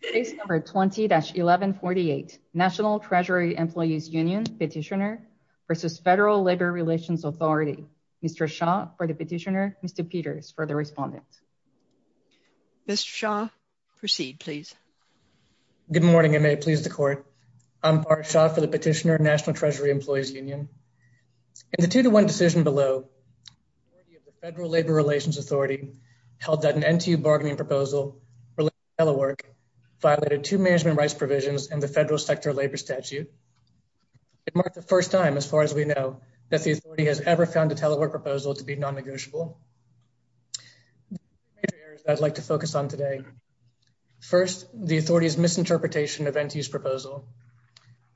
Case number 20-1148, National Treasury Employees Union Petitioner v. Federal Labor Relations Authority. Mr. Shaw for the petitioner, Mr. Peters for the respondent. Mr. Shaw, proceed please. Good morning, and may it please the Court. I'm Bart Shaw for the petitioner, National Treasury Employees Union. In the 2-1 decision below, the authority of the Federal Labor Relations Authority held that an NTU bargaining proposal related to telework violated two management rights provisions in the Federal Sector Labor Statute. It marked the first time, as far as we know, that the authority has ever found a telework proposal to be non-negotiable. There are two major areas that I'd like to focus on today. First, the authority's misinterpretation of NTU's proposal.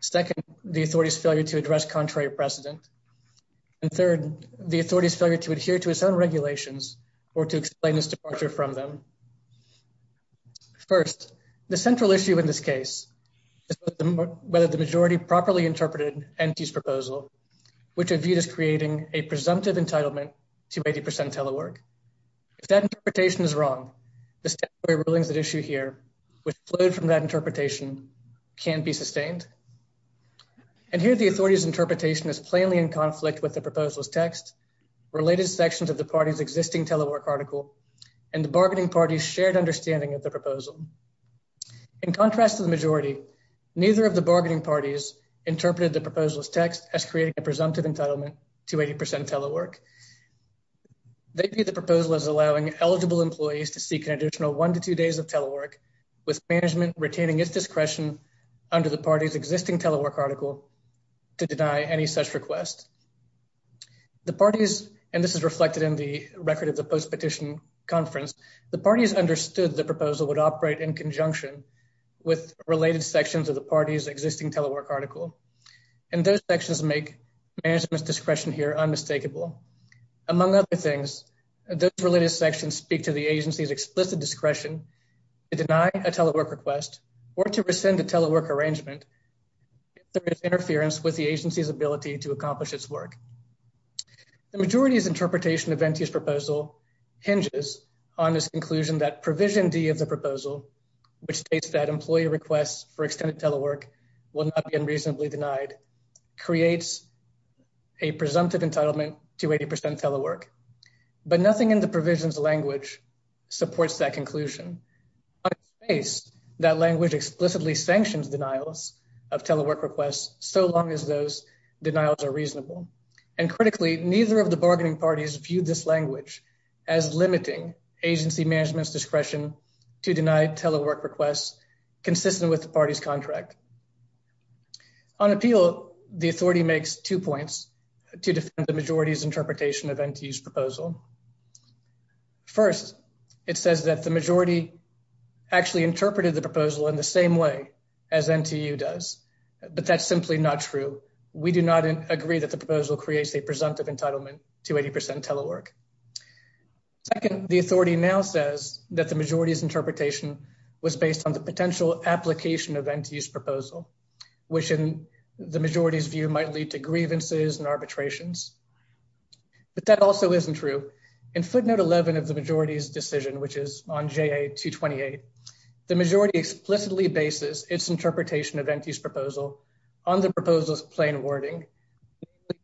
Second, the authority's failure to address contrary precedent. And third, the authority's failure to adhere to its own regulations or to explain its departure from them. First, the central issue in this case is whether the majority properly interpreted NTU's proposal, which would view it as creating a presumptive entitlement to 80% telework. If that interpretation is wrong, the statutory rulings at issue here, which flowed from that interpretation, can be sustained. And here, the authority's interpretation is plainly in conflict with the proposal's text, related sections of the party's existing telework article, and the bargaining party's shared understanding of the proposal. In contrast to the majority, neither of the bargaining parties interpreted the proposal's text as creating a presumptive entitlement to 80% telework. They view the proposal as allowing eligible employees to seek an additional one to two days of telework, with management retaining its discretion under the party's existing telework article to deny any such request. The parties, and this is reflected in the record of the post-petition conference, the parties understood the proposal would operate in conjunction with related sections of the party's existing telework article, and those sections make management's discretion here unmistakable. Among other things, those related sections speak to the agency's explicit discretion to deny a telework request or to rescind a telework arrangement if there is interference with the agency's ability to accomplish its work. The majority's interpretation of Venti's proposal hinges on this conclusion that Provision D of the proposal, which states that employee requests for extended telework will not be unreasonably denied, creates a presumptive entitlement to 80% telework. But nothing in the provision's language supports that conclusion. On its face, that language explicitly sanctions denials of telework requests so long as those denials are reasonable. And critically, neither of the bargaining parties viewed this language as limiting agency management's discretion to deny telework requests consistent with the party's contract. On appeal, the authority makes two points to defend the majority's interpretation of Venti's proposal. First, it says that the majority actually interpreted the proposal in the same way as NTU does, but that's simply not true. We do not agree that the proposal creates a presumptive entitlement to 80% telework. Second, the authority now says that the majority's interpretation was based on the potential application of Venti's proposal, which in the majority's view might lead to grievances and arbitrations. But that also isn't true. In footnote 11 of the majority's decision, which is on JA 228, the majority explicitly bases its interpretation of Venti's proposal on the proposal's plain wording,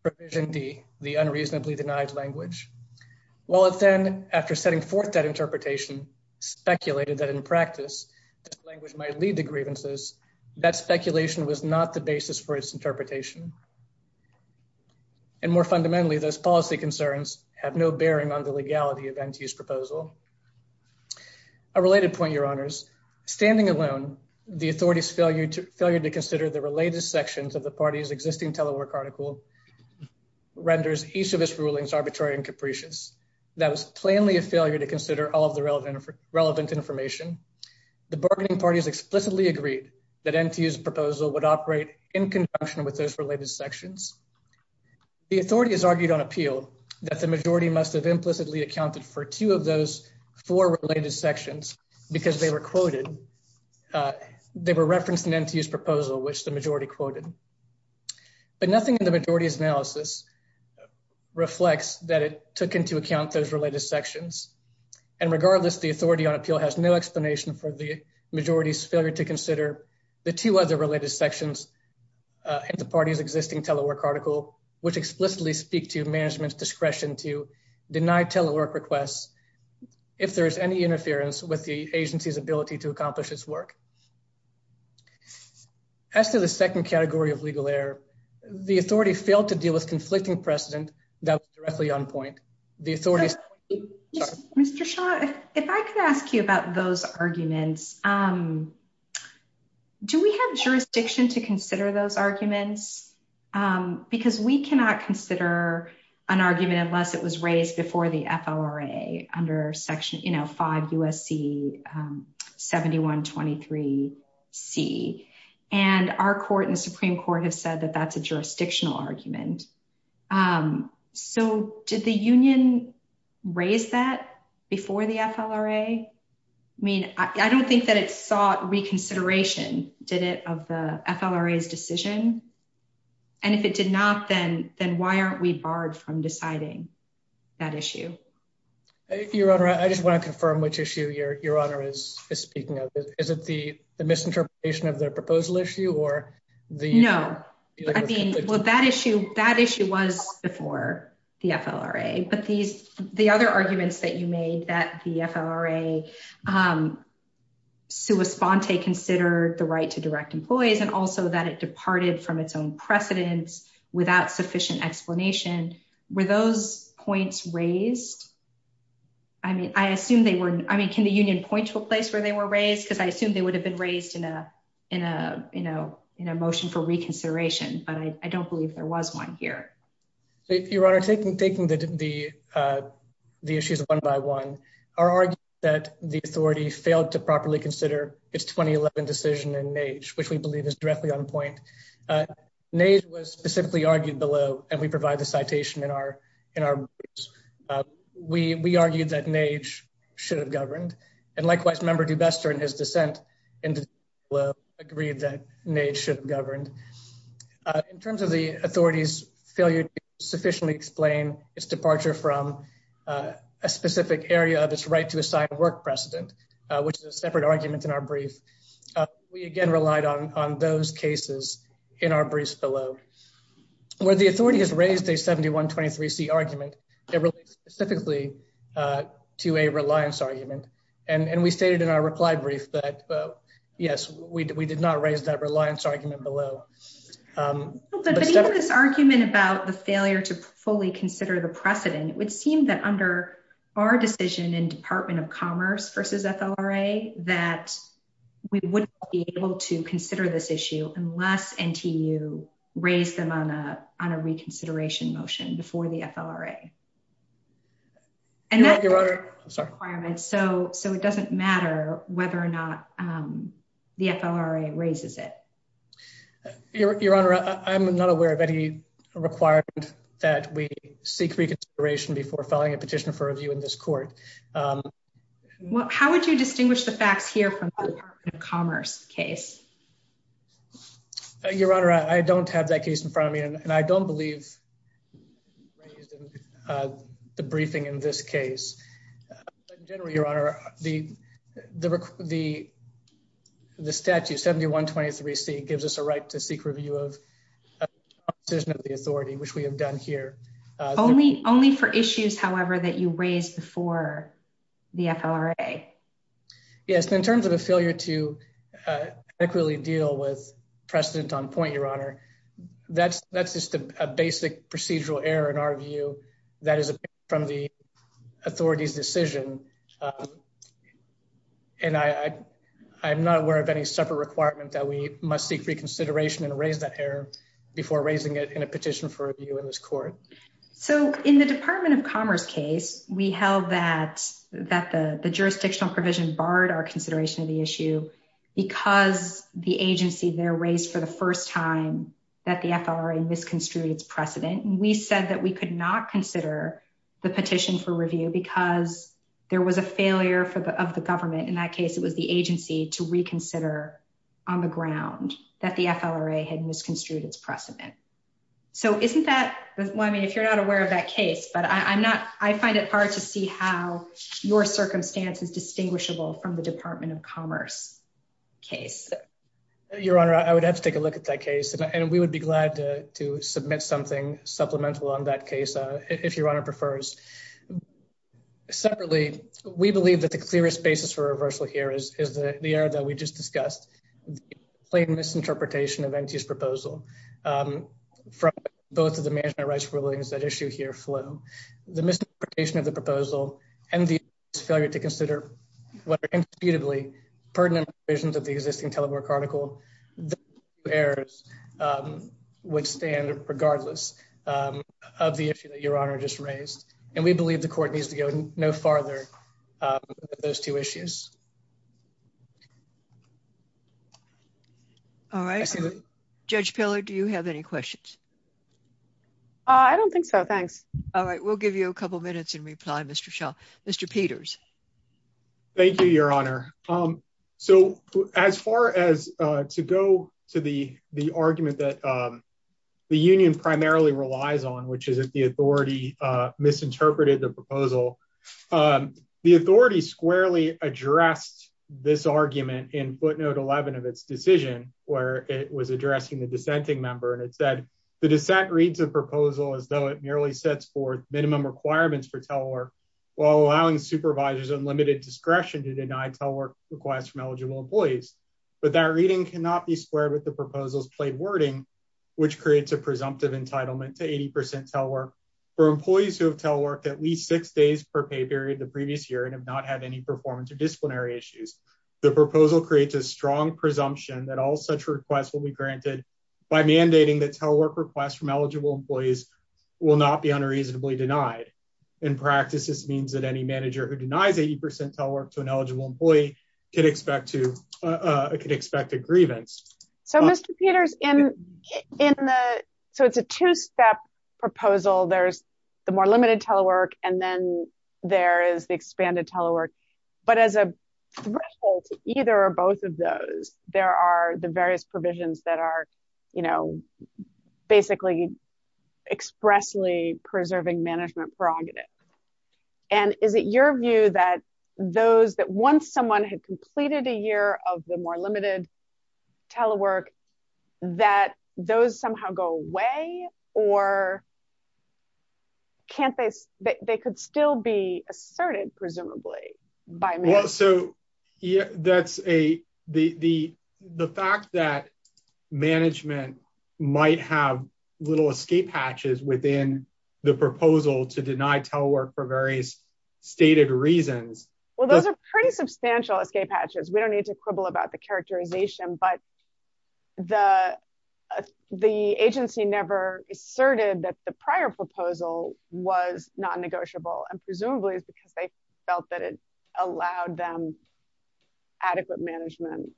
provision D, the unreasonably denied language. While it then, after setting forth that interpretation, speculated that in practice, this language might lead to grievances, that speculation was not the basis for its interpretation. And more fundamentally, those policy concerns have no bearing on the legality of Venti's proposal. A related point, Your Honors. Standing alone, the authority's failure to consider the related sections of the party's existing telework article renders each of its rulings arbitrary and capricious. That was plainly a failure to consider all of the relevant information. The bargaining parties explicitly agreed that NTU's proposal would operate in conjunction with those related sections. The authority has argued on appeal that the majority must have implicitly accounted for two of those four related sections because they were quoted, they were referenced in NTU's proposal, which the majority quoted. But nothing in the majority's analysis reflects that it took into account those related sections. And regardless, the authority on appeal has no explanation for the majority's failure to consider the two other related sections in the party's existing telework article, which explicitly speak to management's discretion to deny telework requests if there is any interference with the agency's ability to accomplish its work. As to the second category of legal error, the authority failed to deal with conflicting precedent that was directly on point. Mr. Shah, if I could ask you about those arguments, do we have jurisdiction to consider those arguments? Because we cannot consider an argument unless it was raised before the FLRA under Section, you know, 5 U.S.C. 7123 C. And our court and the Supreme Court have said that that's a jurisdictional argument. So did the union raise that before the FLRA? I mean, I don't think that it sought reconsideration, did it, of the FLRA's decision? And if it did not, then why aren't we barred from deciding that issue? Your Honor, I just want to confirm which issue Your Honor is speaking of. Is it the misinterpretation of their proposal issue? No. I mean, well, that issue was before the FLRA. But the other arguments that you made, that the FLRA sua sponte considered the right to direct employees and also that it departed from its own precedence without sufficient explanation, were those points raised? I mean, I assume they were, I mean, can the union point to a place where they were raised? Because I assume they would have been raised in a, you know, in a motion for reconsideration. But I don't believe there was one here. Your Honor, taking the issues one by one, our argument is that the authority failed to properly consider its 2011 decision in NAGE, which we believe is directly on point. NAGE was specifically argued below, and we provide the citation in our briefs. We argued that NAGE should have governed. And likewise, Member Dubester, in his dissent, agreed that NAGE should have governed. In terms of the authority's failure to sufficiently explain its departure from a specific area of its right to assign work precedent, which is a separate argument in our brief, we again relied on those cases in our briefs below. Where the authority has raised a 7123C argument, it relates specifically to a reliance argument. And we stated in our reply brief that, yes, we did not raise that reliance argument below. But even this argument about the failure to fully consider the precedent, it would seem that under our decision in Department of Commerce versus FLRA, that we wouldn't be able to consider this issue unless NTU raised them on a reconsideration motion before the FLRA. Your Honor, I'm sorry. So it doesn't matter whether or not the FLRA raises it. Your Honor, I'm not aware of any requirement that we seek reconsideration before filing a petition for review in this court. How would you distinguish the facts here from the Department of Commerce case? Your Honor, I don't have that case in front of me, and I don't believe raised in the briefing in this case. In general, Your Honor, the statute 7123C gives us a right to seek review of decision of the authority, which we have done here. Only for issues, however, that you raised before the FLRA. Yes. In terms of a failure to adequately deal with precedent on point, Your Honor, that's just a basic procedural error in our view. That is from the authority's decision, and I'm not aware of any separate requirement that we must seek reconsideration and raise that error before raising it in a petition for review in this court. So in the Department of Commerce case, we held that the jurisdictional provision barred our consideration of the issue because the agency there raised for the first time that the FLRA misconstrued its precedent. We said that we could not consider the petition for review because there was a failure of the government. In that case, it was the agency to reconsider on the ground that the FLRA had misconstrued its precedent. So isn't that, well, I mean, if you're not aware of that case, but I find it hard to see how your circumstance is distinguishable from the Department of Commerce case. Your Honor, I would have to take a look at that case, and we would be glad to submit something supplemental on that case if Your Honor prefers. Separately, we believe that the clearest basis for reversal here is the error that we just discussed. The plain misinterpretation of NTS's proposal from both of the management rights rulings that issue here flow. The misinterpretation of the proposal and the failure to consider what are indisputably pertinent provisions of the existing telework article, the errors would stand regardless of the issue that Your Honor just raised. And we believe the court needs to go no farther with those two issues. All right. Judge Pillar, do you have any questions? I don't think so. Thanks. All right. We'll give you a couple minutes and reply, Mr. Shaw. Mr. Peters. Thank you, Your Honor. So as far as to go to the argument that the union primarily relies on, which is that the authority misinterpreted the proposal, the authority squarely addressed this argument in footnote 11 of its decision, where it was addressing the dissenting member, and it said, the dissent reads the proposal as though it merely sets forth minimum requirements for telework while allowing supervisors unlimited discretion to deny telework requests from eligible employees. But that reading cannot be squared with the proposal's plain wording, which creates a presumptive entitlement to 80% telework. For employees who have teleworked at least six days per pay period the previous year and have not had any performance or disciplinary issues, the proposal creates a strong presumption that all such requests will be granted by mandating that telework requests from eligible employees will not be unreasonably denied. In practice, this means that any manager who denies 80% telework to an eligible employee could expect a grievance. So, Mr. Peters, so it's a two-step proposal. There's the more limited telework, and then there is the expanded telework. But as a threshold to either or both of those, there are the various provisions that are basically expressly preserving management prerogatives. And is it your view that those that once someone had completed a year of the more limited telework, that those somehow go away, or can't they, they could still be asserted, presumably, by management? The fact that management might have little escape hatches within the proposal to deny telework for various stated reasons. Well, those are pretty substantial escape hatches. We don't need to quibble about the characterization, but the agency never asserted that the prior proposal was non-negotiable. And presumably, it's because they felt that it allowed them adequate management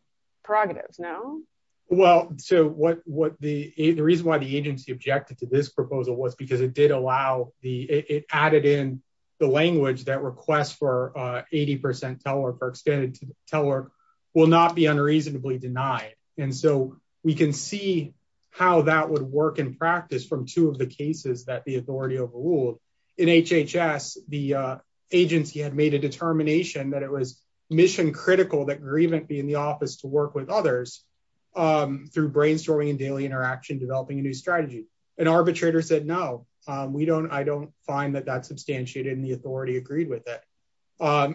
prerogatives, no? Well, so the reason why the agency objected to this proposal was because it added in the language that requests for 80% telework or extended telework will not be unreasonably denied. And so we can see how that would work in practice from two of the cases that the authority overruled. In HHS, the agency had made a determination that it was mission critical that grievance be in the office to work with others through brainstorming and daily interaction, developing a new strategy. An arbitrator said, no, we don't, I don't find that that's substantiated, and the authority agreed with it.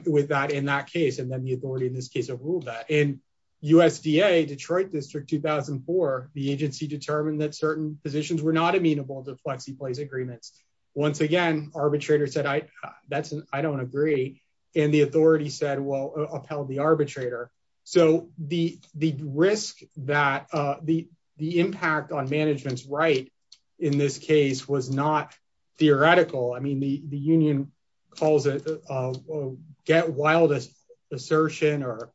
With that in that case, and then the authority in this case overruled that. In USDA, Detroit District 2004, the agency determined that certain positions were not amenable to plexi-place agreements. Once again, arbitrator said, I don't agree, and the authority said, well, upheld the arbitrator. So the risk that, the impact on management's right in this case was not theoretical. I mean, the union calls it a get wild assertion or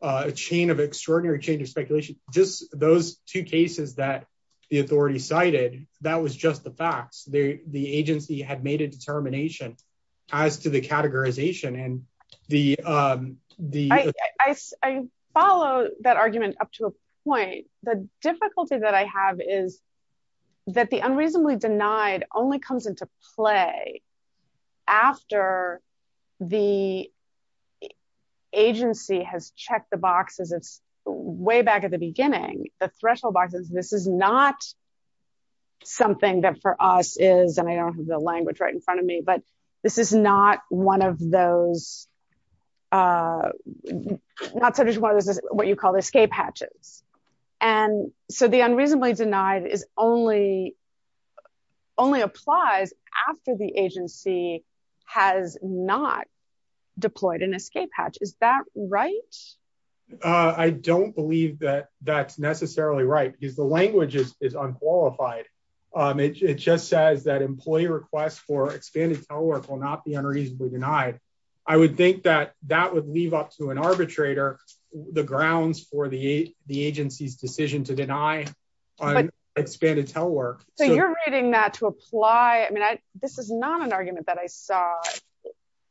a chain of extraordinary change of speculation. Just those two cases that the authority cited, that was just the facts. The agency had made a determination as to the categorization and the- I follow that argument up to a point. The difficulty that I have is that the unreasonably denied only comes into play after the agency has checked the boxes. It's way back at the beginning, the threshold boxes. This is not something that for us is, and I don't have the language right in front of me, but this is not one of those, not so just one of those, what you call escape hatches. And so the unreasonably denied is only, only applies after the agency has not deployed an escape hatch. Is that right? I don't believe that that's necessarily right because the language is unqualified. It just says that employee requests for expanded telework will not be unreasonably denied. I would think that that would leave up to an arbitrator the grounds for the agency's decision to deny expanded telework. So you're reading that to apply. I mean, this is not an argument that I saw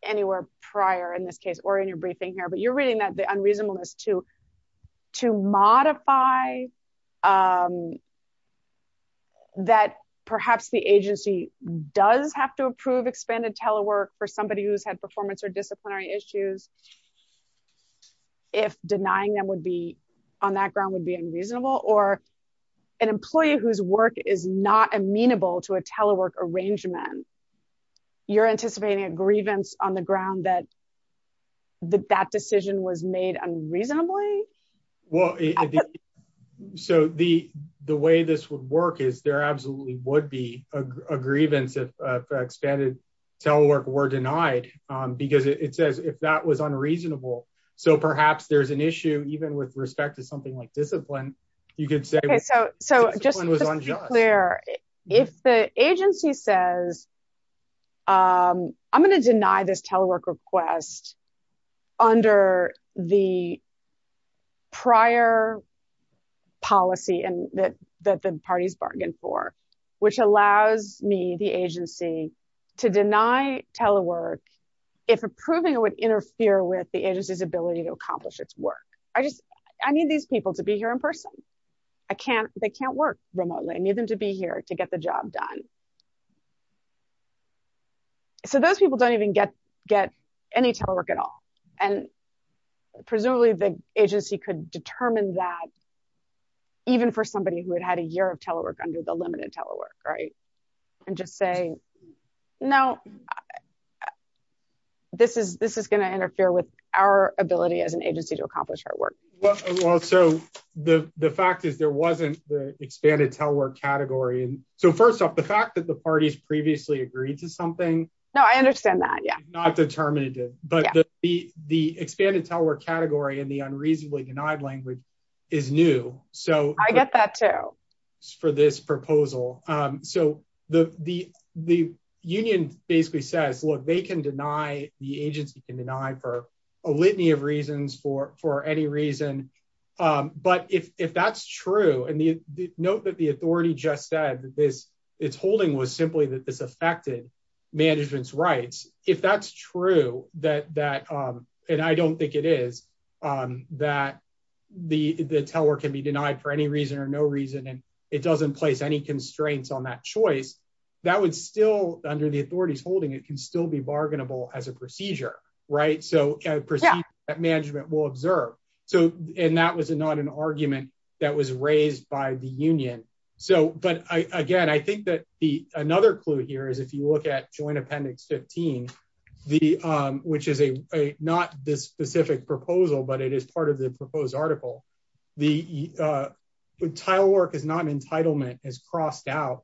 anywhere prior in this case or in your briefing here, but you're reading that the unreasonableness to, to modify that perhaps the agency does have to approve expanded telework for somebody who's had performance or disciplinary issues. If denying them would be on that ground would be unreasonable or an employee whose work is not amenable to a telework arrangement. You're anticipating a grievance on the ground that that decision was made unreasonably? Well, so the, the way this would work is there absolutely would be a grievance if expanded telework were denied, because it says if that was unreasonable. So perhaps there's an issue even with respect to something like discipline. So just to be clear, if the agency says, I'm going to deny this telework request under the prior policy that the parties bargained for, which allows me, the agency, to deny telework if approving it would interfere with the agency's ability to accomplish its work. I just, I need these people to be here in person. I can't, they can't work remotely. I need them to be here to get the job done. So those people don't even get, get any telework at all. And presumably the agency could determine that even for somebody who had had a year of telework under the limited telework, right? And just say, no, this is, this is going to interfere with our ability as an agency to accomplish our work. Well, so the fact is there wasn't the expanded telework category. So first off, the fact that the parties previously agreed to something. No, I understand that. Yeah. Not determinative, but the expanded telework category and the unreasonably denied language is new. I get that too. For this proposal. So the union basically says, look, they can deny, the agency can deny for a litany of reasons, for any reason. But if that's true, and note that the authority just said that this, its holding was simply that this affected management's rights. If that's true, that, that, and I don't think it is, that the telework can be denied for any reason or no reason. And it doesn't place any constraints on that choice. That would still, under the authority's holding, it can still be bargainable as a procedure, right? So a procedure that management will observe. So, and that was not an argument that was raised by the union. So, but again, I think that the, another clue here is if you look at joint appendix 15, the, which is a, not this specific proposal, but it is part of the proposed article. The telework is not an entitlement as crossed out.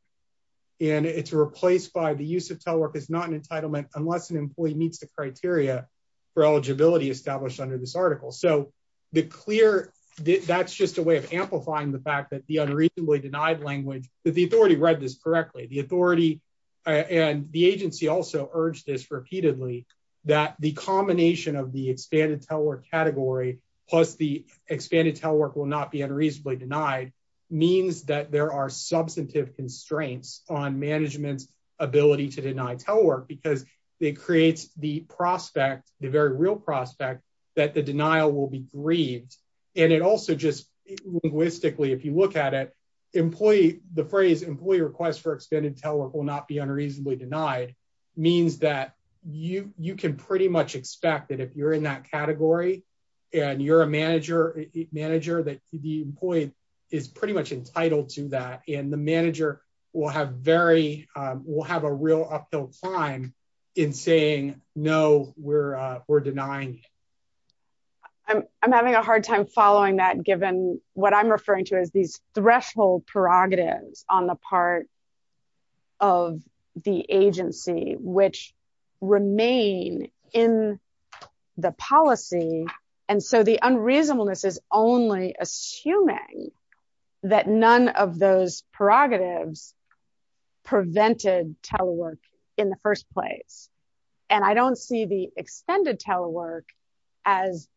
And it's replaced by the use of telework is not an entitlement unless an employee meets the criteria for eligibility established under this article. So the clear, that's just a way of amplifying the fact that the unreasonably denied language, that the authority read this correctly. The authority, and the agency also urged this repeatedly, that the combination of the expanded telework category, plus the expanded telework will not be unreasonably denied, means that there are substantive constraints on management's ability to deny telework because it creates the prospect, the very real prospect, that the denial will be grieved. And it also just linguistically, if you look at it, employee, the phrase employee request for extended telework will not be unreasonably denied, means that you can pretty much expect that if you're in that category, and you're a manager, manager, that the employee is pretty much entitled to that. And the manager will have very, will have a real uphill climb in saying, no, we're denying it. I'm having a hard time following that given what I'm referring to as these threshold prerogatives on the part of the agency, which remain in the policy. And so the unreasonableness is only assuming that none of those prerogatives prevented telework in the first place. And I don't see the extended telework as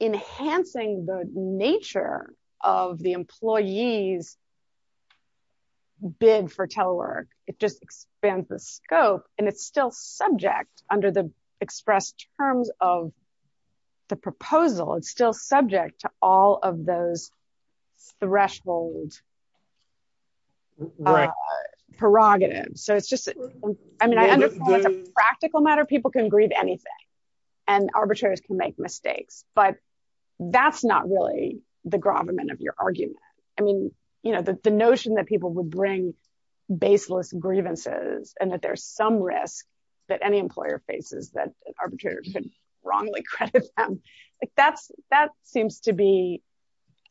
enhancing the nature of the employee's bid for telework. It just expands the scope, and it's still subject under the expressed terms of the proposal. It's still subject to all of those threshold prerogatives. So it's just, I mean, I understand it's a practical matter. People can grieve anything, and arbitrators can make mistakes, but that's not really the gravamen of your argument. I mean, you know, the notion that people would bring baseless grievances, and that there's some risk that any employer faces that an arbitrator could wrongly credit them. That seems to be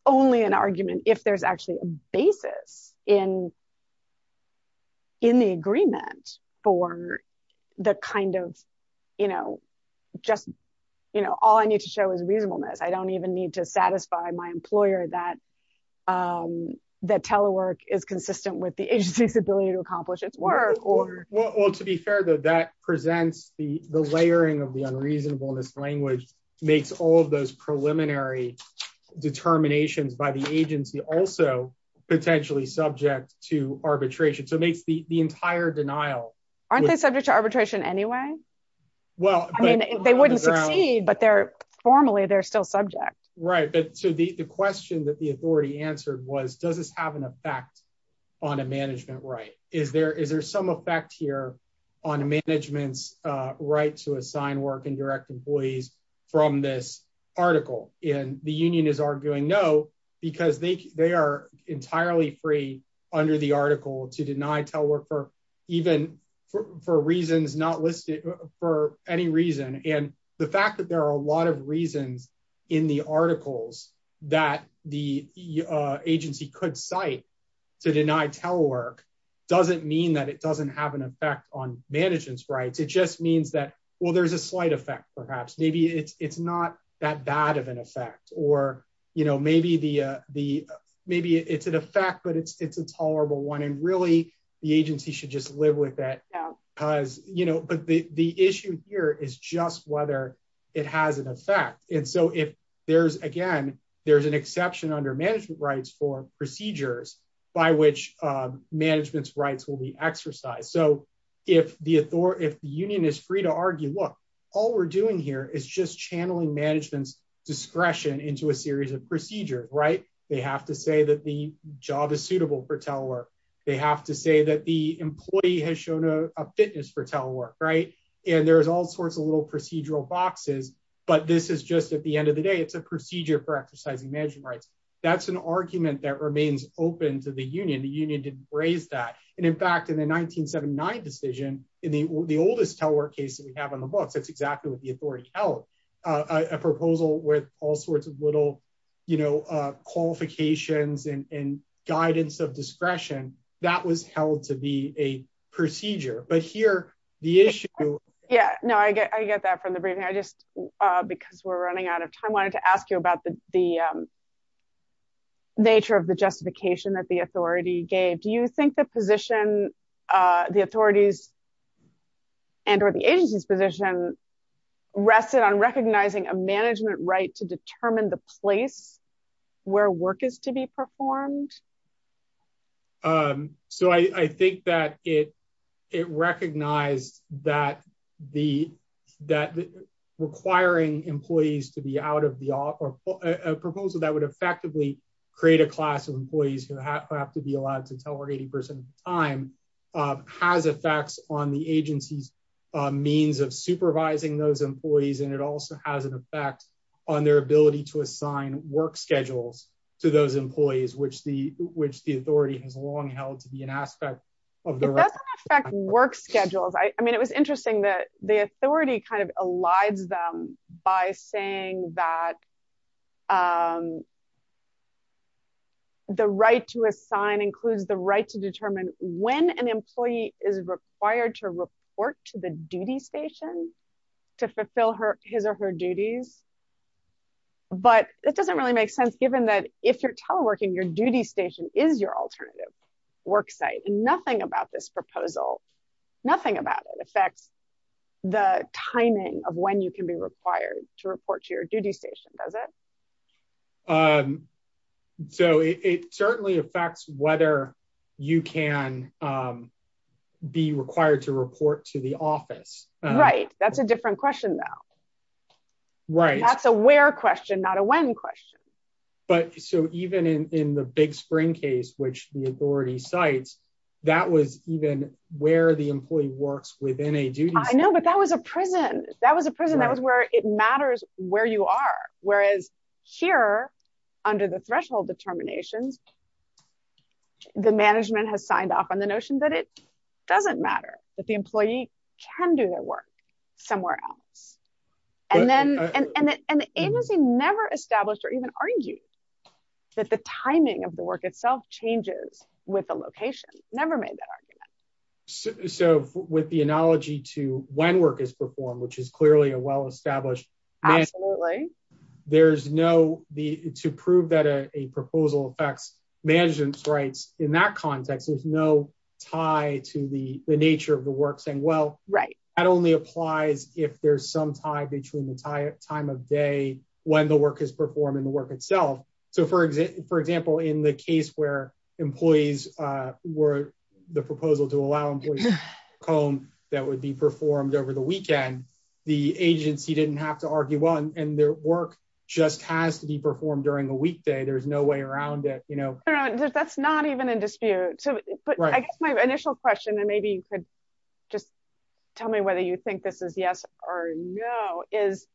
only an argument if there's actually a basis in the agreement for the kind of, you know, just all I need to show is reasonableness. I don't even need to satisfy my employer that telework is consistent with the agency's ability to accomplish its work. Well, to be fair, though, that presents the layering of the unreasonableness language makes all of those preliminary determinations by the agency also potentially subject to arbitration. So it makes the entire denial. Aren't they subject to arbitration anyway? I mean, they wouldn't succeed, but formally they're still subject. Right. So the question that the authority answered was, does this have an effect on a management right? Is there some effect here on management's right to assign work and direct employees from this article? And the union is arguing no, because they are entirely free under the article to deny telework for even for reasons not listed for any reason. And the fact that there are a lot of reasons in the articles that the agency could cite to deny telework doesn't mean that it doesn't have an effect on management's rights. It just means that, well, there's a slight effect, perhaps. Maybe it's not that bad of an effect, or maybe it's an effect, but it's a tolerable one. And really, the agency should just live with that. But the issue here is just whether it has an effect. And so if there's, again, there's an exception under management rights for procedures by which management's rights will be exercised. So if the union is free to argue, look, all we're doing here is just channeling management's discretion into a series of procedures, right? They have to say that the job is suitable for telework. They have to say that the employee has shown a fitness for telework, right? And there's all sorts of little procedural boxes. But this is just at the end of the day, it's a procedure for exercising management rights. That's an argument that remains open to the union. And the union didn't raise that. And in fact, in the 1979 decision, in the oldest telework case that we have in the books, that's exactly what the authority held. A proposal with all sorts of little qualifications and guidance of discretion, that was held to be a procedure. But here, the issue... Yeah, no, I get that from the briefing. I just, because we're running out of time, wanted to ask you about the nature of the justification that the authority gave. Do you think the position, the authority's and or the agency's position, rested on recognizing a management right to determine the place where work is to be performed? So I think that it recognized that requiring employees to be out of the... A proposal that would effectively create a class of employees who have to be allowed to telework 80% of the time has effects on the agency's means of supervising those employees. And it also has an effect on their ability to assign work schedules to those employees, which the authority has long held to be an aspect of the... It doesn't affect work schedules. I mean, it was interesting that the authority kind of elides them by saying that the right to assign includes the right to determine when an employee is required to report to the duty station to fulfill his or her duties. But it doesn't really make sense given that if you're teleworking, your duty station is your alternative work site and nothing about this proposal, nothing about it affects the timing of when you can be required to report to your duty station, does it? So it certainly affects whether you can be required to report to the office. Right. That's a different question though. Right. That's a where question, not a when question. But so even in the Big Spring case, which the authority cites, that was even where the employee works within a duty station. I know, but that was a prison. That was a prison. That was where it matters where you are. Whereas here, under the threshold determinations, the management has signed off on the notion that it doesn't matter, that the employee can do their work somewhere else. And the agency never established or even argued that the timing of the work itself changes with the location. Never made that argument. So with the analogy to when work is performed, which is clearly a well-established... Absolutely. There's no, to prove that a proposal affects management's rights in that context, there's no tie to the nature of the work saying, well, that only applies if there's some tie between the time of day when the work is performed and the work itself. So for example, in the case where employees were, the proposal to allow employees to work from home that would be performed over the weekend, the agency didn't have to argue, well, and their work just has to be performed during the weekday. There's no way around it. That's not even in dispute. But I guess my initial question, and maybe you could just tell me whether you think this is yes or no, is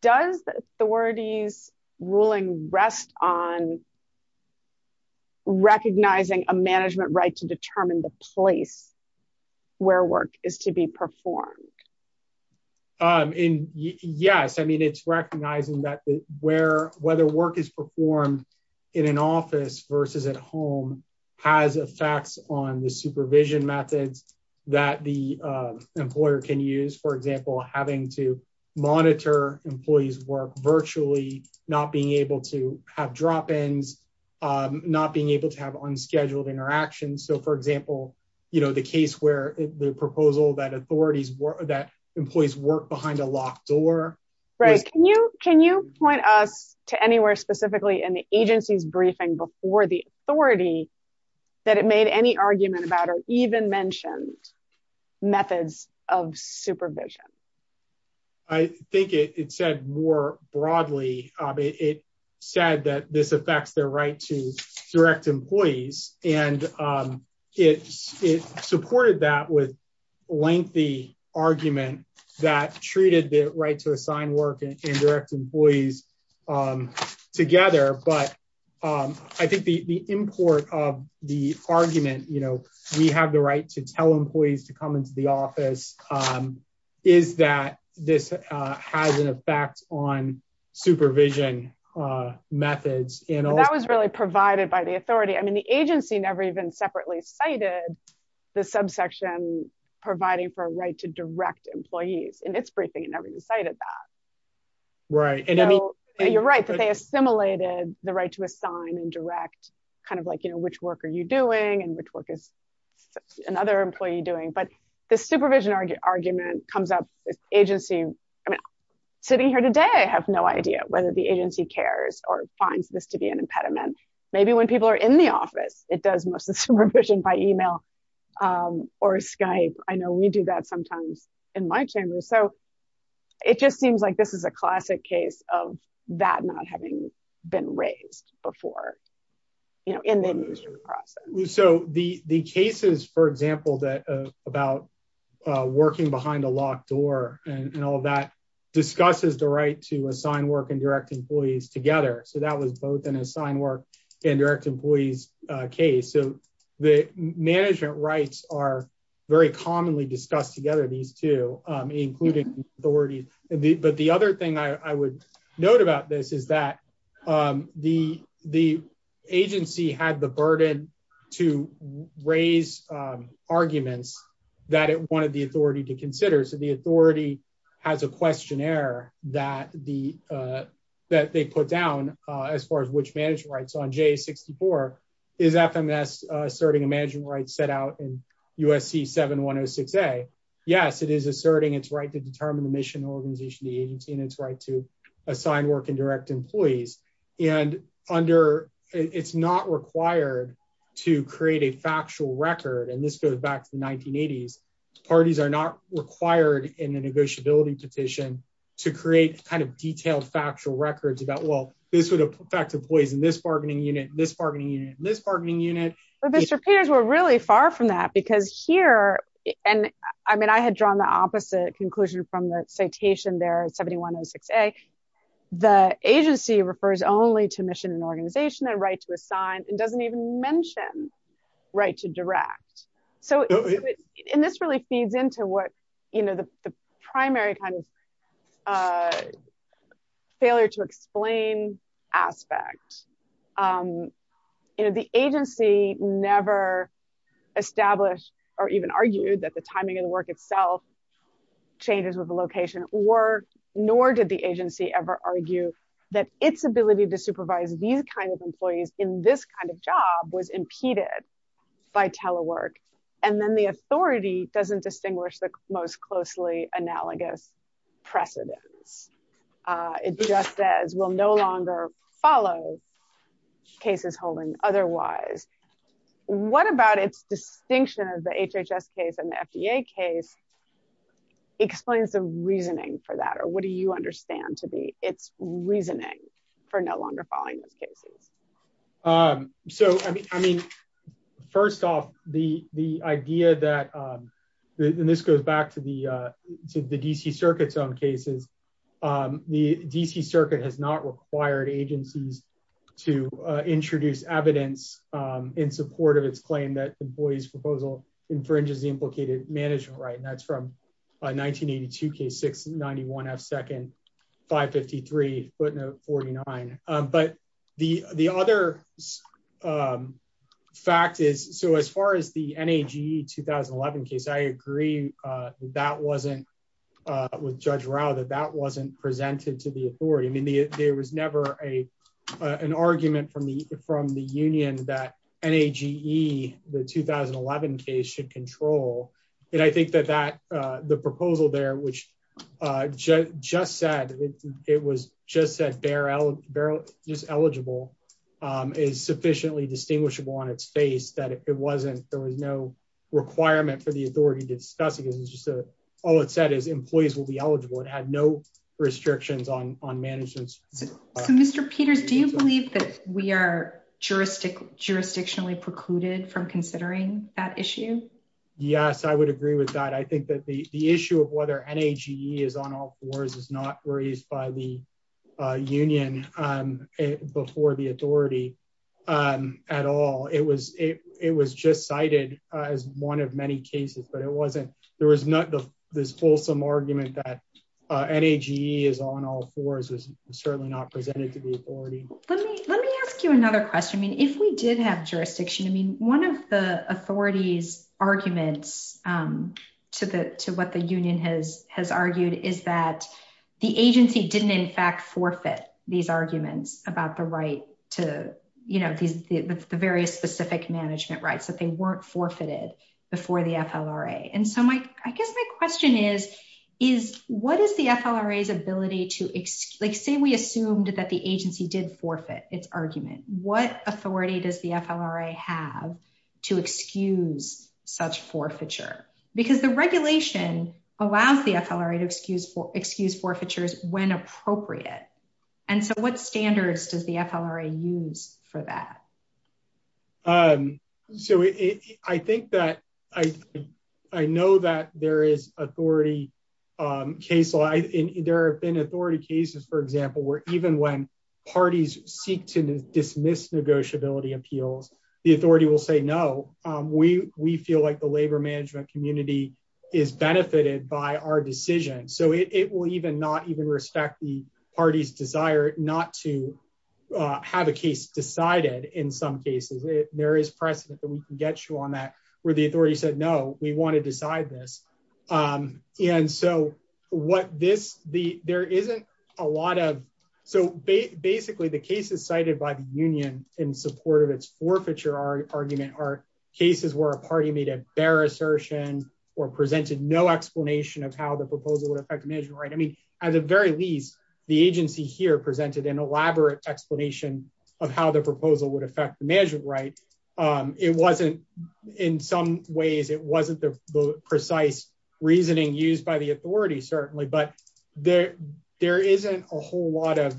does the authority's ruling rest on recognizing a management right to determine the place where work is to be performed? Yes. I mean, it's recognizing that whether work is performed in an office versus at home has effects on the supervision methods that the employer can use. For example, having to monitor employees' work virtually, not being able to have drop-ins, not being able to have unscheduled interactions. So for example, the case where the proposal that employees work behind a locked door. Right. Can you point us to anywhere specifically in the agency's briefing before the authority that it made any argument about or even mentioned methods of supervision? I think it said more broadly, it said that this affects their right to direct employees. And it supported that with lengthy argument that treated the right to assign work and direct employees together. But I think the import of the argument, we have the right to tell employees to come into the office, is that this has an effect on supervision methods. That was really provided by the authority. I mean, the agency never even separately cited the subsection providing for a right to direct employees in its briefing. It never cited that. Right. You're right that they assimilated the right to assign and direct, kind of like, you know, which work are you doing and which work is another employee doing. But the supervision argument comes up with agency. I mean, sitting here today, I have no idea whether the agency cares or finds this to be an impediment. Maybe when people are in the office, it does most of the supervision by email or Skype. I know we do that sometimes in my chamber. So it just seems like this is a classic case of that not having been raised before, you know, in the process. So the cases, for example, that about working behind a locked door and all that discusses the right to assign work and direct employees together. So that was both an assigned work and direct employees case. So the management rights are very commonly discussed together, these two, including authorities. But the other thing I would note about this is that the agency had the burden to raise arguments that it wanted the authority to consider. So the authority has a questionnaire that they put down as far as which management rights. On J-64, is FMS asserting a management right set out in USC 7106A? Yes, it is asserting its right to determine the mission and organization of the agency and its right to assign work and direct employees. And it's not required to create a factual record. And this goes back to the 1980s. Parties are not required in the negotiability petition to create kind of detailed factual records about, well, this would affect employees in this bargaining unit, this bargaining unit, this bargaining unit. But Mr. Peters, we're really far from that because here, and I mean, I had drawn the opposite conclusion from the citation there, 7106A, the agency refers only to mission and organization and right to assign and doesn't even mention right to direct. So, and this really feeds into what, you know, the primary kind of failure to explain aspect. You know, the agency never established or even argued that the timing of the work itself changes with the location, nor did the agency ever argue that its ability to supervise these kinds of employees in this kind of job was impeded by telework. And then the authority doesn't distinguish the most closely analogous precedence. It just says we'll no longer follow cases holding otherwise. What about its distinction of the HHS case and the FDA case explains the reasoning for that, or what do you understand to be its reasoning for no longer following those cases? So, I mean, first off, the idea that, and this goes back to the DC Circuit's own cases, the DC Circuit has not required agencies to introduce evidence in support of its claim that employees proposal infringes the implicated management right. And that's from a 1982 case, 691 F second, 553 footnote 49. But the other fact is, so as far as the NAGE 2011 case, I agree that that wasn't, with Judge Rao, that that wasn't presented to the authority. I mean, there was never a, an argument from the, from the union that NAGE, the 2011 case should control. And I think that that, the proposal there, which just said, it was just said bare, just eligible is sufficiently distinguishable on its face that if it wasn't, there was no requirement for the authority to discuss it because it's just a, all it said is employees will be eligible. It had no restrictions on, on management. So, Mr. Peters, do you believe that we are jurisdictionally precluded from considering that issue? Yes, I would agree with that. I think that the, the issue of whether NAGE is on all fours is not raised by the union before the authority at all. It was, it was just cited as one of many cases, but it wasn't, there was not this wholesome argument that NAGE is on all fours was certainly not presented to the authority. Let me, let me ask you another question. I mean, if we did have jurisdiction, I mean, one of the authority's arguments to the, to what the union has, has argued is that the agency didn't in fact forfeit these arguments about the right to, you know, these, the various specific management rights that they weren't forfeited before the FLRA. And so my, I guess my question is, is what is the FLRA's ability to, like say we assumed that the agency did forfeit its argument, what authority does the FLRA have to excuse such forfeiture? Because the regulation allows the FLRA to excuse for, excuse forfeitures when appropriate. And so what standards does the FLRA use for that? So I think that I, I know that there is authority case law, there have been authority cases, for example, where even when parties seek to dismiss negotiability appeals, the authority will say, no, we, we feel like the labor management community is benefited by our decision. So it will even not even respect the party's desire not to have a case decided in some cases, there is precedent that we can get you on that, where the authority said, no, we want to decide this. And so what this, the, there isn't a lot of, so basically the cases cited by the union in support of its forfeiture argument are cases where a party made a bare assertion or presented no explanation of how the proposal would affect the management right. I mean, at the very least, the agency here presented an elaborate explanation of how the proposal would affect the management right. It wasn't, in some ways, it wasn't the precise reasoning used by the authority, certainly, but there, there isn't a whole lot of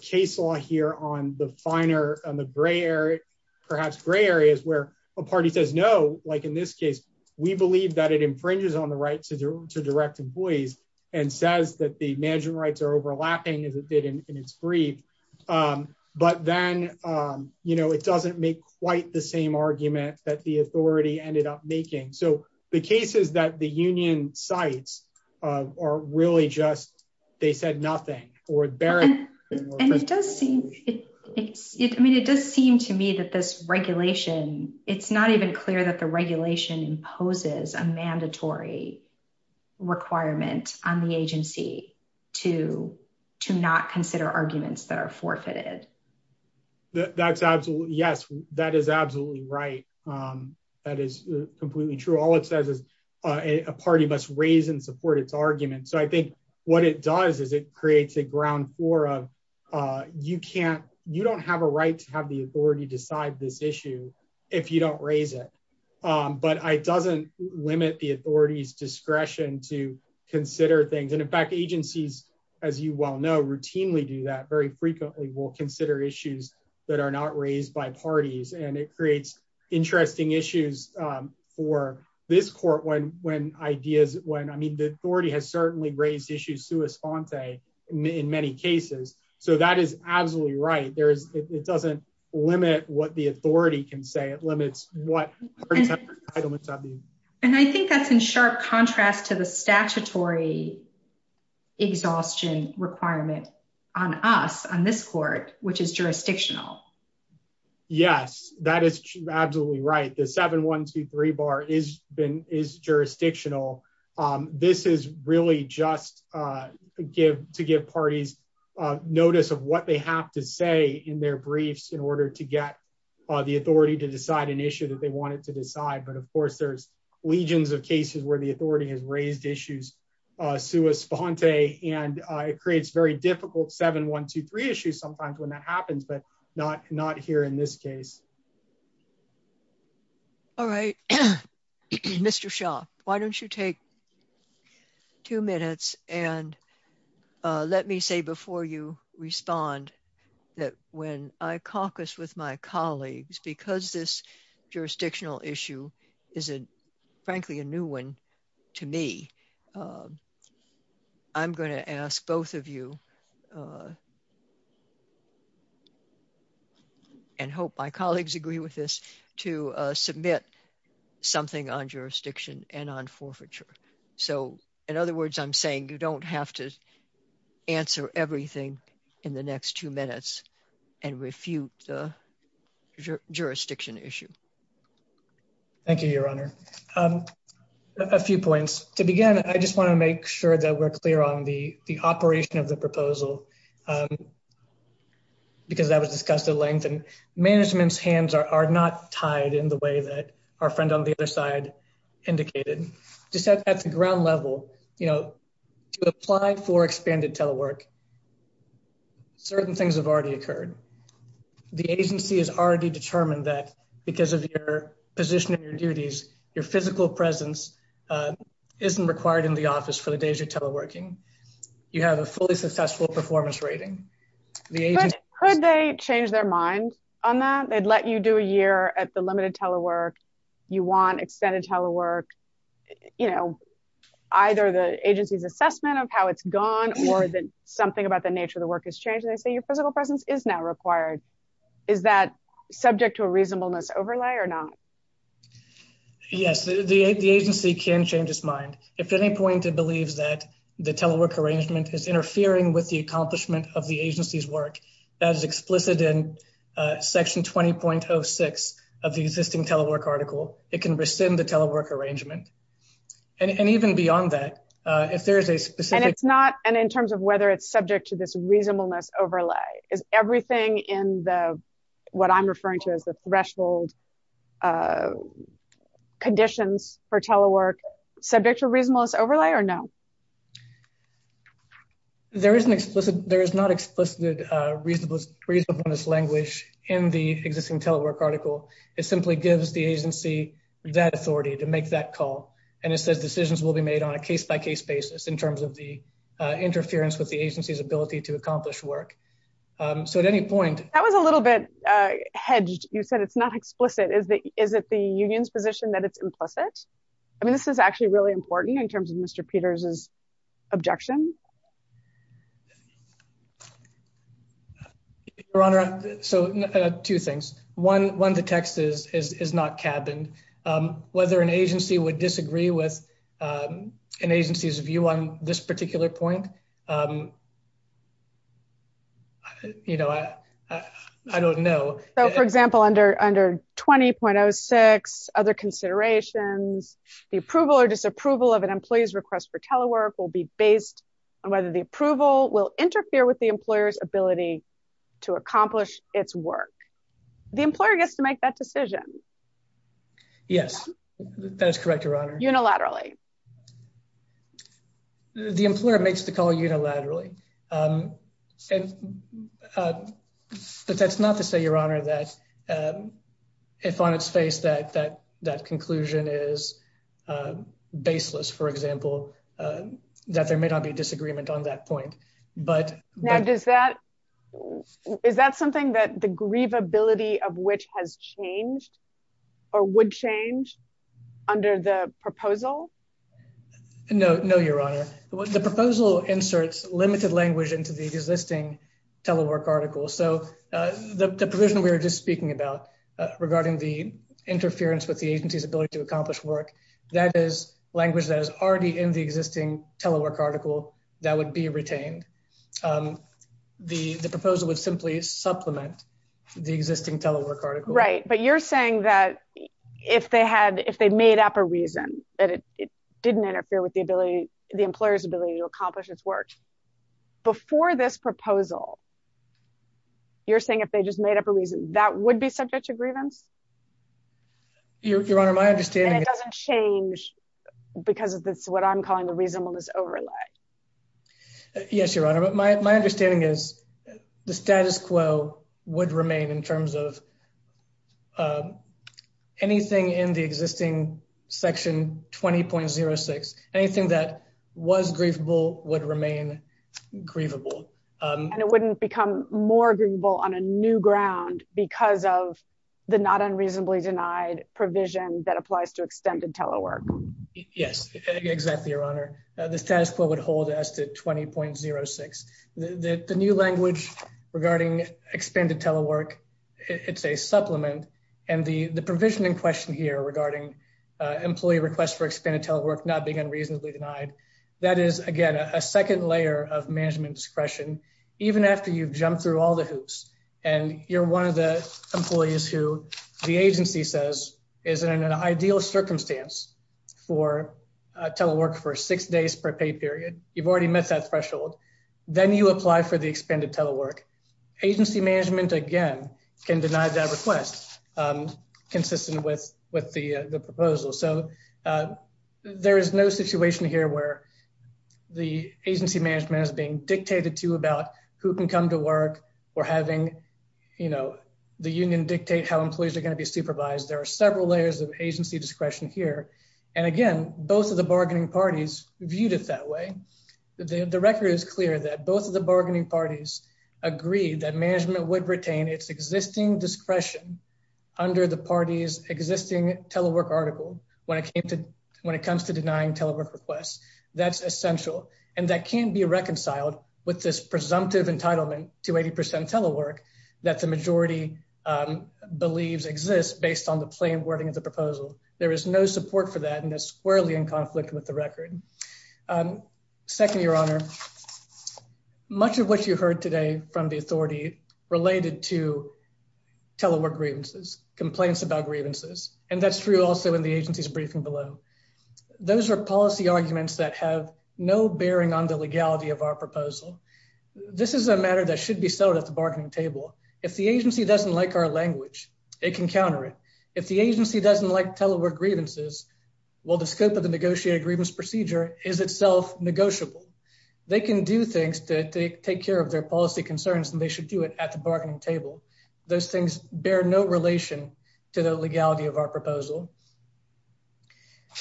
case law here on the finer, on the gray area, perhaps gray areas where a party says no, like in this case, we believe that it infringes on the right to direct employees. And says that the management rights are overlapping as it did in its brief. But then, you know, it doesn't make quite the same argument that the authority ended up making so the cases that the union sites are really just, they said nothing, or bear. And it does seem, I mean, it does seem to me that this regulation, it's not even clear that the regulation imposes a mandatory requirement on the agency to, to not consider arguments that are forfeited. That's absolutely, yes, that is absolutely right. That is completely true. All it says is a party must raise and support its argument. So I think what it does is it creates a ground floor of you can't, you don't have a right to have the authority decide this issue if you don't raise it. But it doesn't limit the authority's discretion to consider things. And in fact, agencies, as you well know, routinely do that very frequently, will consider issues that are not raised by parties. And it creates interesting issues for this court when, when ideas, when, I mean, the authority has certainly raised issues sui sponte in many cases. So that is absolutely right, there is, it doesn't limit what the authority can say it limits what And I think that's in sharp contrast to the statutory exhaustion requirement on us on this court, which is jurisdictional. Yes, that is absolutely right. The 7123 bar is been is jurisdictional. This is really just give to give parties notice of what they have to say in their briefs in order to get the authority to decide an issue that they wanted to decide. But of course, there's legions of cases where the authority has raised issues sui sponte and it creates very difficult 7123 issues sometimes when that happens, but not not here in this case. All right. Mr shop. Why don't you take Two minutes and let me say before you respond that when I caucus with my colleagues, because this jurisdictional issue is a frankly a new one to me. I'm going to ask both of you. And hope my colleagues agree with this to submit something on jurisdiction and on forfeiture. So in other words, I'm saying you don't have to answer everything in the next two minutes and refute the jurisdiction issue. Thank you, Your Honor. A few points. To begin, I just want to make sure that we're clear on the the operation of the proposal. Because that was discussed at length and management's hands are not tied in the way that our friend on the other side indicated to set at the ground level, you know, apply for expanded telework. Certain things have already occurred. The agency is already determined that because of your position of your duties, your physical presence. Isn't required in the office for the days you're teleworking you have a fully successful performance rating. Could they change their mind on that they'd let you do a year at the limited telework you want extended telework, you know, Either the agency's assessment of how it's gone or that something about the nature of the work has changed. They say your physical presence is now required. Is that subject to a reasonableness overlay or not. Yes, the agency can change his mind. If any point to believe that the telework arrangement is interfering with the accomplishment of the agency's work as explicit in Section 20.06 of the existing telework article, it can rescind the telework arrangement and even beyond that, if there is a specific And it's not. And in terms of whether it's subject to this reasonableness overlay is everything in the what I'm referring to as the threshold Conditions for telework subject to reasonableness overlay or no There is an explicit there is not explicit reasonableness language in the existing telework article is simply gives the agency that authority to make that call and it says decisions will be made on a case by case basis in terms of the interference with the agency's ability to accomplish work. So at any point. That was a little bit hedged. You said it's not explicit is that is it the union's position that it's implicit. I mean, this is actually really important in terms of Mr. Peters is objection. Your Honor. So two things. One, one, the text is is not cabin whether an agency would disagree with An agency's view on this particular point. You know, I, I don't know. So, for example, under under 20.06 other considerations, the approval or disapproval of an employee's request for telework will be based on whether the approval will interfere with the employer's ability to accomplish its work. The employer gets to make that decision. Yes, that is correct, Your Honor. Unilaterally The employer makes the call unilaterally But that's not to say, Your Honor, that If on its face that that that conclusion is Baseless, for example, that there may not be disagreement on that point, but Now, does that, is that something that the grievability of which has changed or would change under the proposal. No, no, Your Honor. The proposal inserts limited language into the existing telework article. So the provision we were just speaking about Regarding the interference with the agency's ability to accomplish work that is language that is already in the existing telework article that would be retained The, the proposal would simply supplement the existing telework article Right, but you're saying that if they had if they made up a reason that it didn't interfere with the ability, the employer's ability to accomplish its work. Before this proposal. You're saying if they just made up a reason that would be subject to grievance. Your Honor, my understanding It doesn't change because of this, what I'm calling the reasonableness overlay. Yes, Your Honor, but my, my understanding is the status quo would remain in terms of And it wouldn't become more agreeable on a new ground because of the not unreasonably denied provision that applies to extended telework Yes, exactly. Your Honor, the status quo would hold us to 20.06 the new language regarding expanded telework. It's a supplement and the the provision in question here regarding Employee request for expanded telework not being unreasonably denied. That is, again, a second layer of management discretion, even after you've jumped through all the hoops. And you're one of the employees who the agency says is in an ideal circumstance for telework for six days per pay period. You've already met that threshold. Then you apply for the expanded telework agency management again can deny that request consistent with with the proposal. So There is no situation here where the agency management is being dictated to about who can come to work or having You know, the union dictate how employees are going to be supervised. There are several layers of agency discretion here. And again, both of the bargaining parties viewed it that way. The record is clear that both of the bargaining parties agreed that management would retain its existing discretion. Under the party's existing telework article when it came to when it comes to denying telework requests. That's essential and that can be reconciled with this presumptive entitlement to 80% telework that the majority Believes exists based on the plain wording of the proposal. There is no support for that and it's squarely in conflict with the record. Second, Your Honor. Much of what you heard today from the authority related to telework grievances complaints about grievances and that's true. Also, in the agency's briefing below Those are policy arguments that have no bearing on the legality of our proposal. This is a matter that should be sold at the bargaining table. If the agency doesn't like our language. It can counter it. If the agency doesn't like telework grievances. Well, the scope of the negotiated grievance procedure is itself negotiable. They can do things to take care of their policy concerns and they should do it at the bargaining table. Those things bear no relation to the legality of our proposal.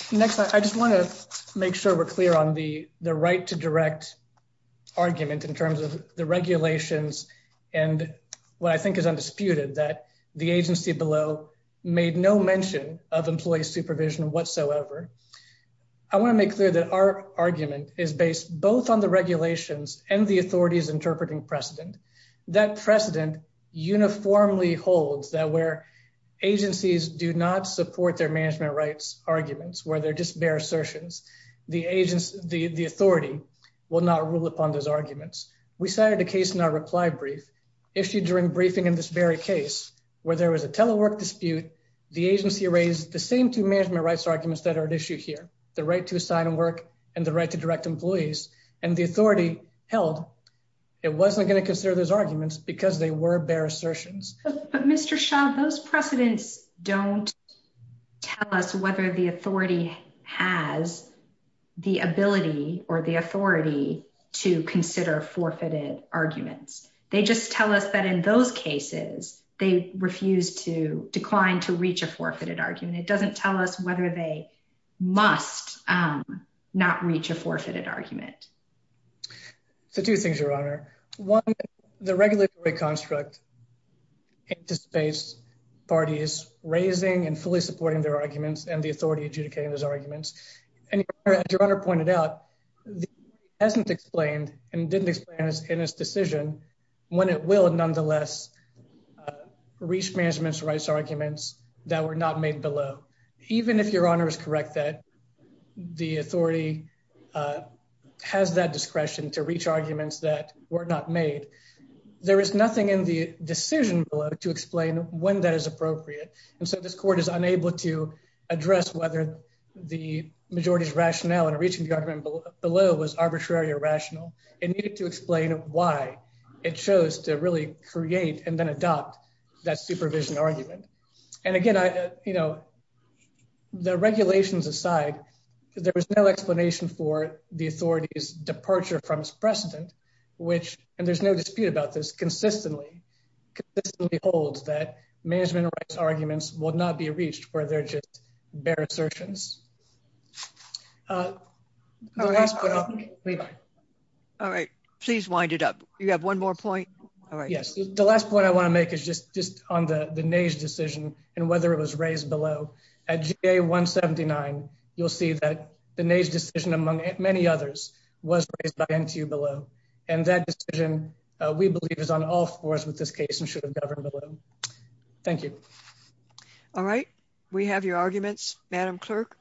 Next, I just want to make sure we're clear on the the right to direct argument in terms of the regulations and what I think is undisputed that the agency below made no mention of employee supervision whatsoever. I want to make clear that our argument is based both on the regulations and the authorities interpreting precedent. That precedent uniformly holds that where agencies do not support their management rights arguments where they're just bare assertions. The authority will not rule upon those arguments. We cited a case in our reply brief issued during briefing in this very case where there was a telework dispute. The agency raised the same two management rights arguments that are at issue here. The right to assign work and the right to direct employees and the authority held. It wasn't going to consider those arguments because they were bare assertions. But Mr. Shaw, those precedents don't tell us whether the authority has the ability or the authority to consider forfeited arguments. They just tell us that in those cases, they refuse to decline to reach a forfeited argument. It doesn't tell us whether they must not reach a forfeited argument. So two things, Your Honor. One, the regulatory construct into space party is raising and fully supporting their arguments and the authority adjudicating those arguments. And as Your Honor pointed out, hasn't explained and didn't explain in his decision when it will nonetheless reach management's rights arguments that were not made below. Even if Your Honor is correct that the authority has that discretion to reach arguments that were not made, there is nothing in the decision to explain when that is appropriate. And so this court is unable to address whether the majority's rationale and reaching the argument below was arbitrary or rational. It needed to explain why it chose to really create and then adopt that supervision argument. And again, you know, the regulations aside, there was no explanation for the authority's departure from its precedent, which, and there's no dispute about this, consistently holds that management rights arguments will not be reached where they're just bare assertions. All right, please wind it up. You have one more point. Yes, the last point I want to make is just just on the the nays decision, and whether it was raised below at a 179, you'll see that the nays decision among many others was by into below. And that decision, we believe is on all fours with this case and should have governed below. Thank you. All right, we have your arguments, Madam Clerk.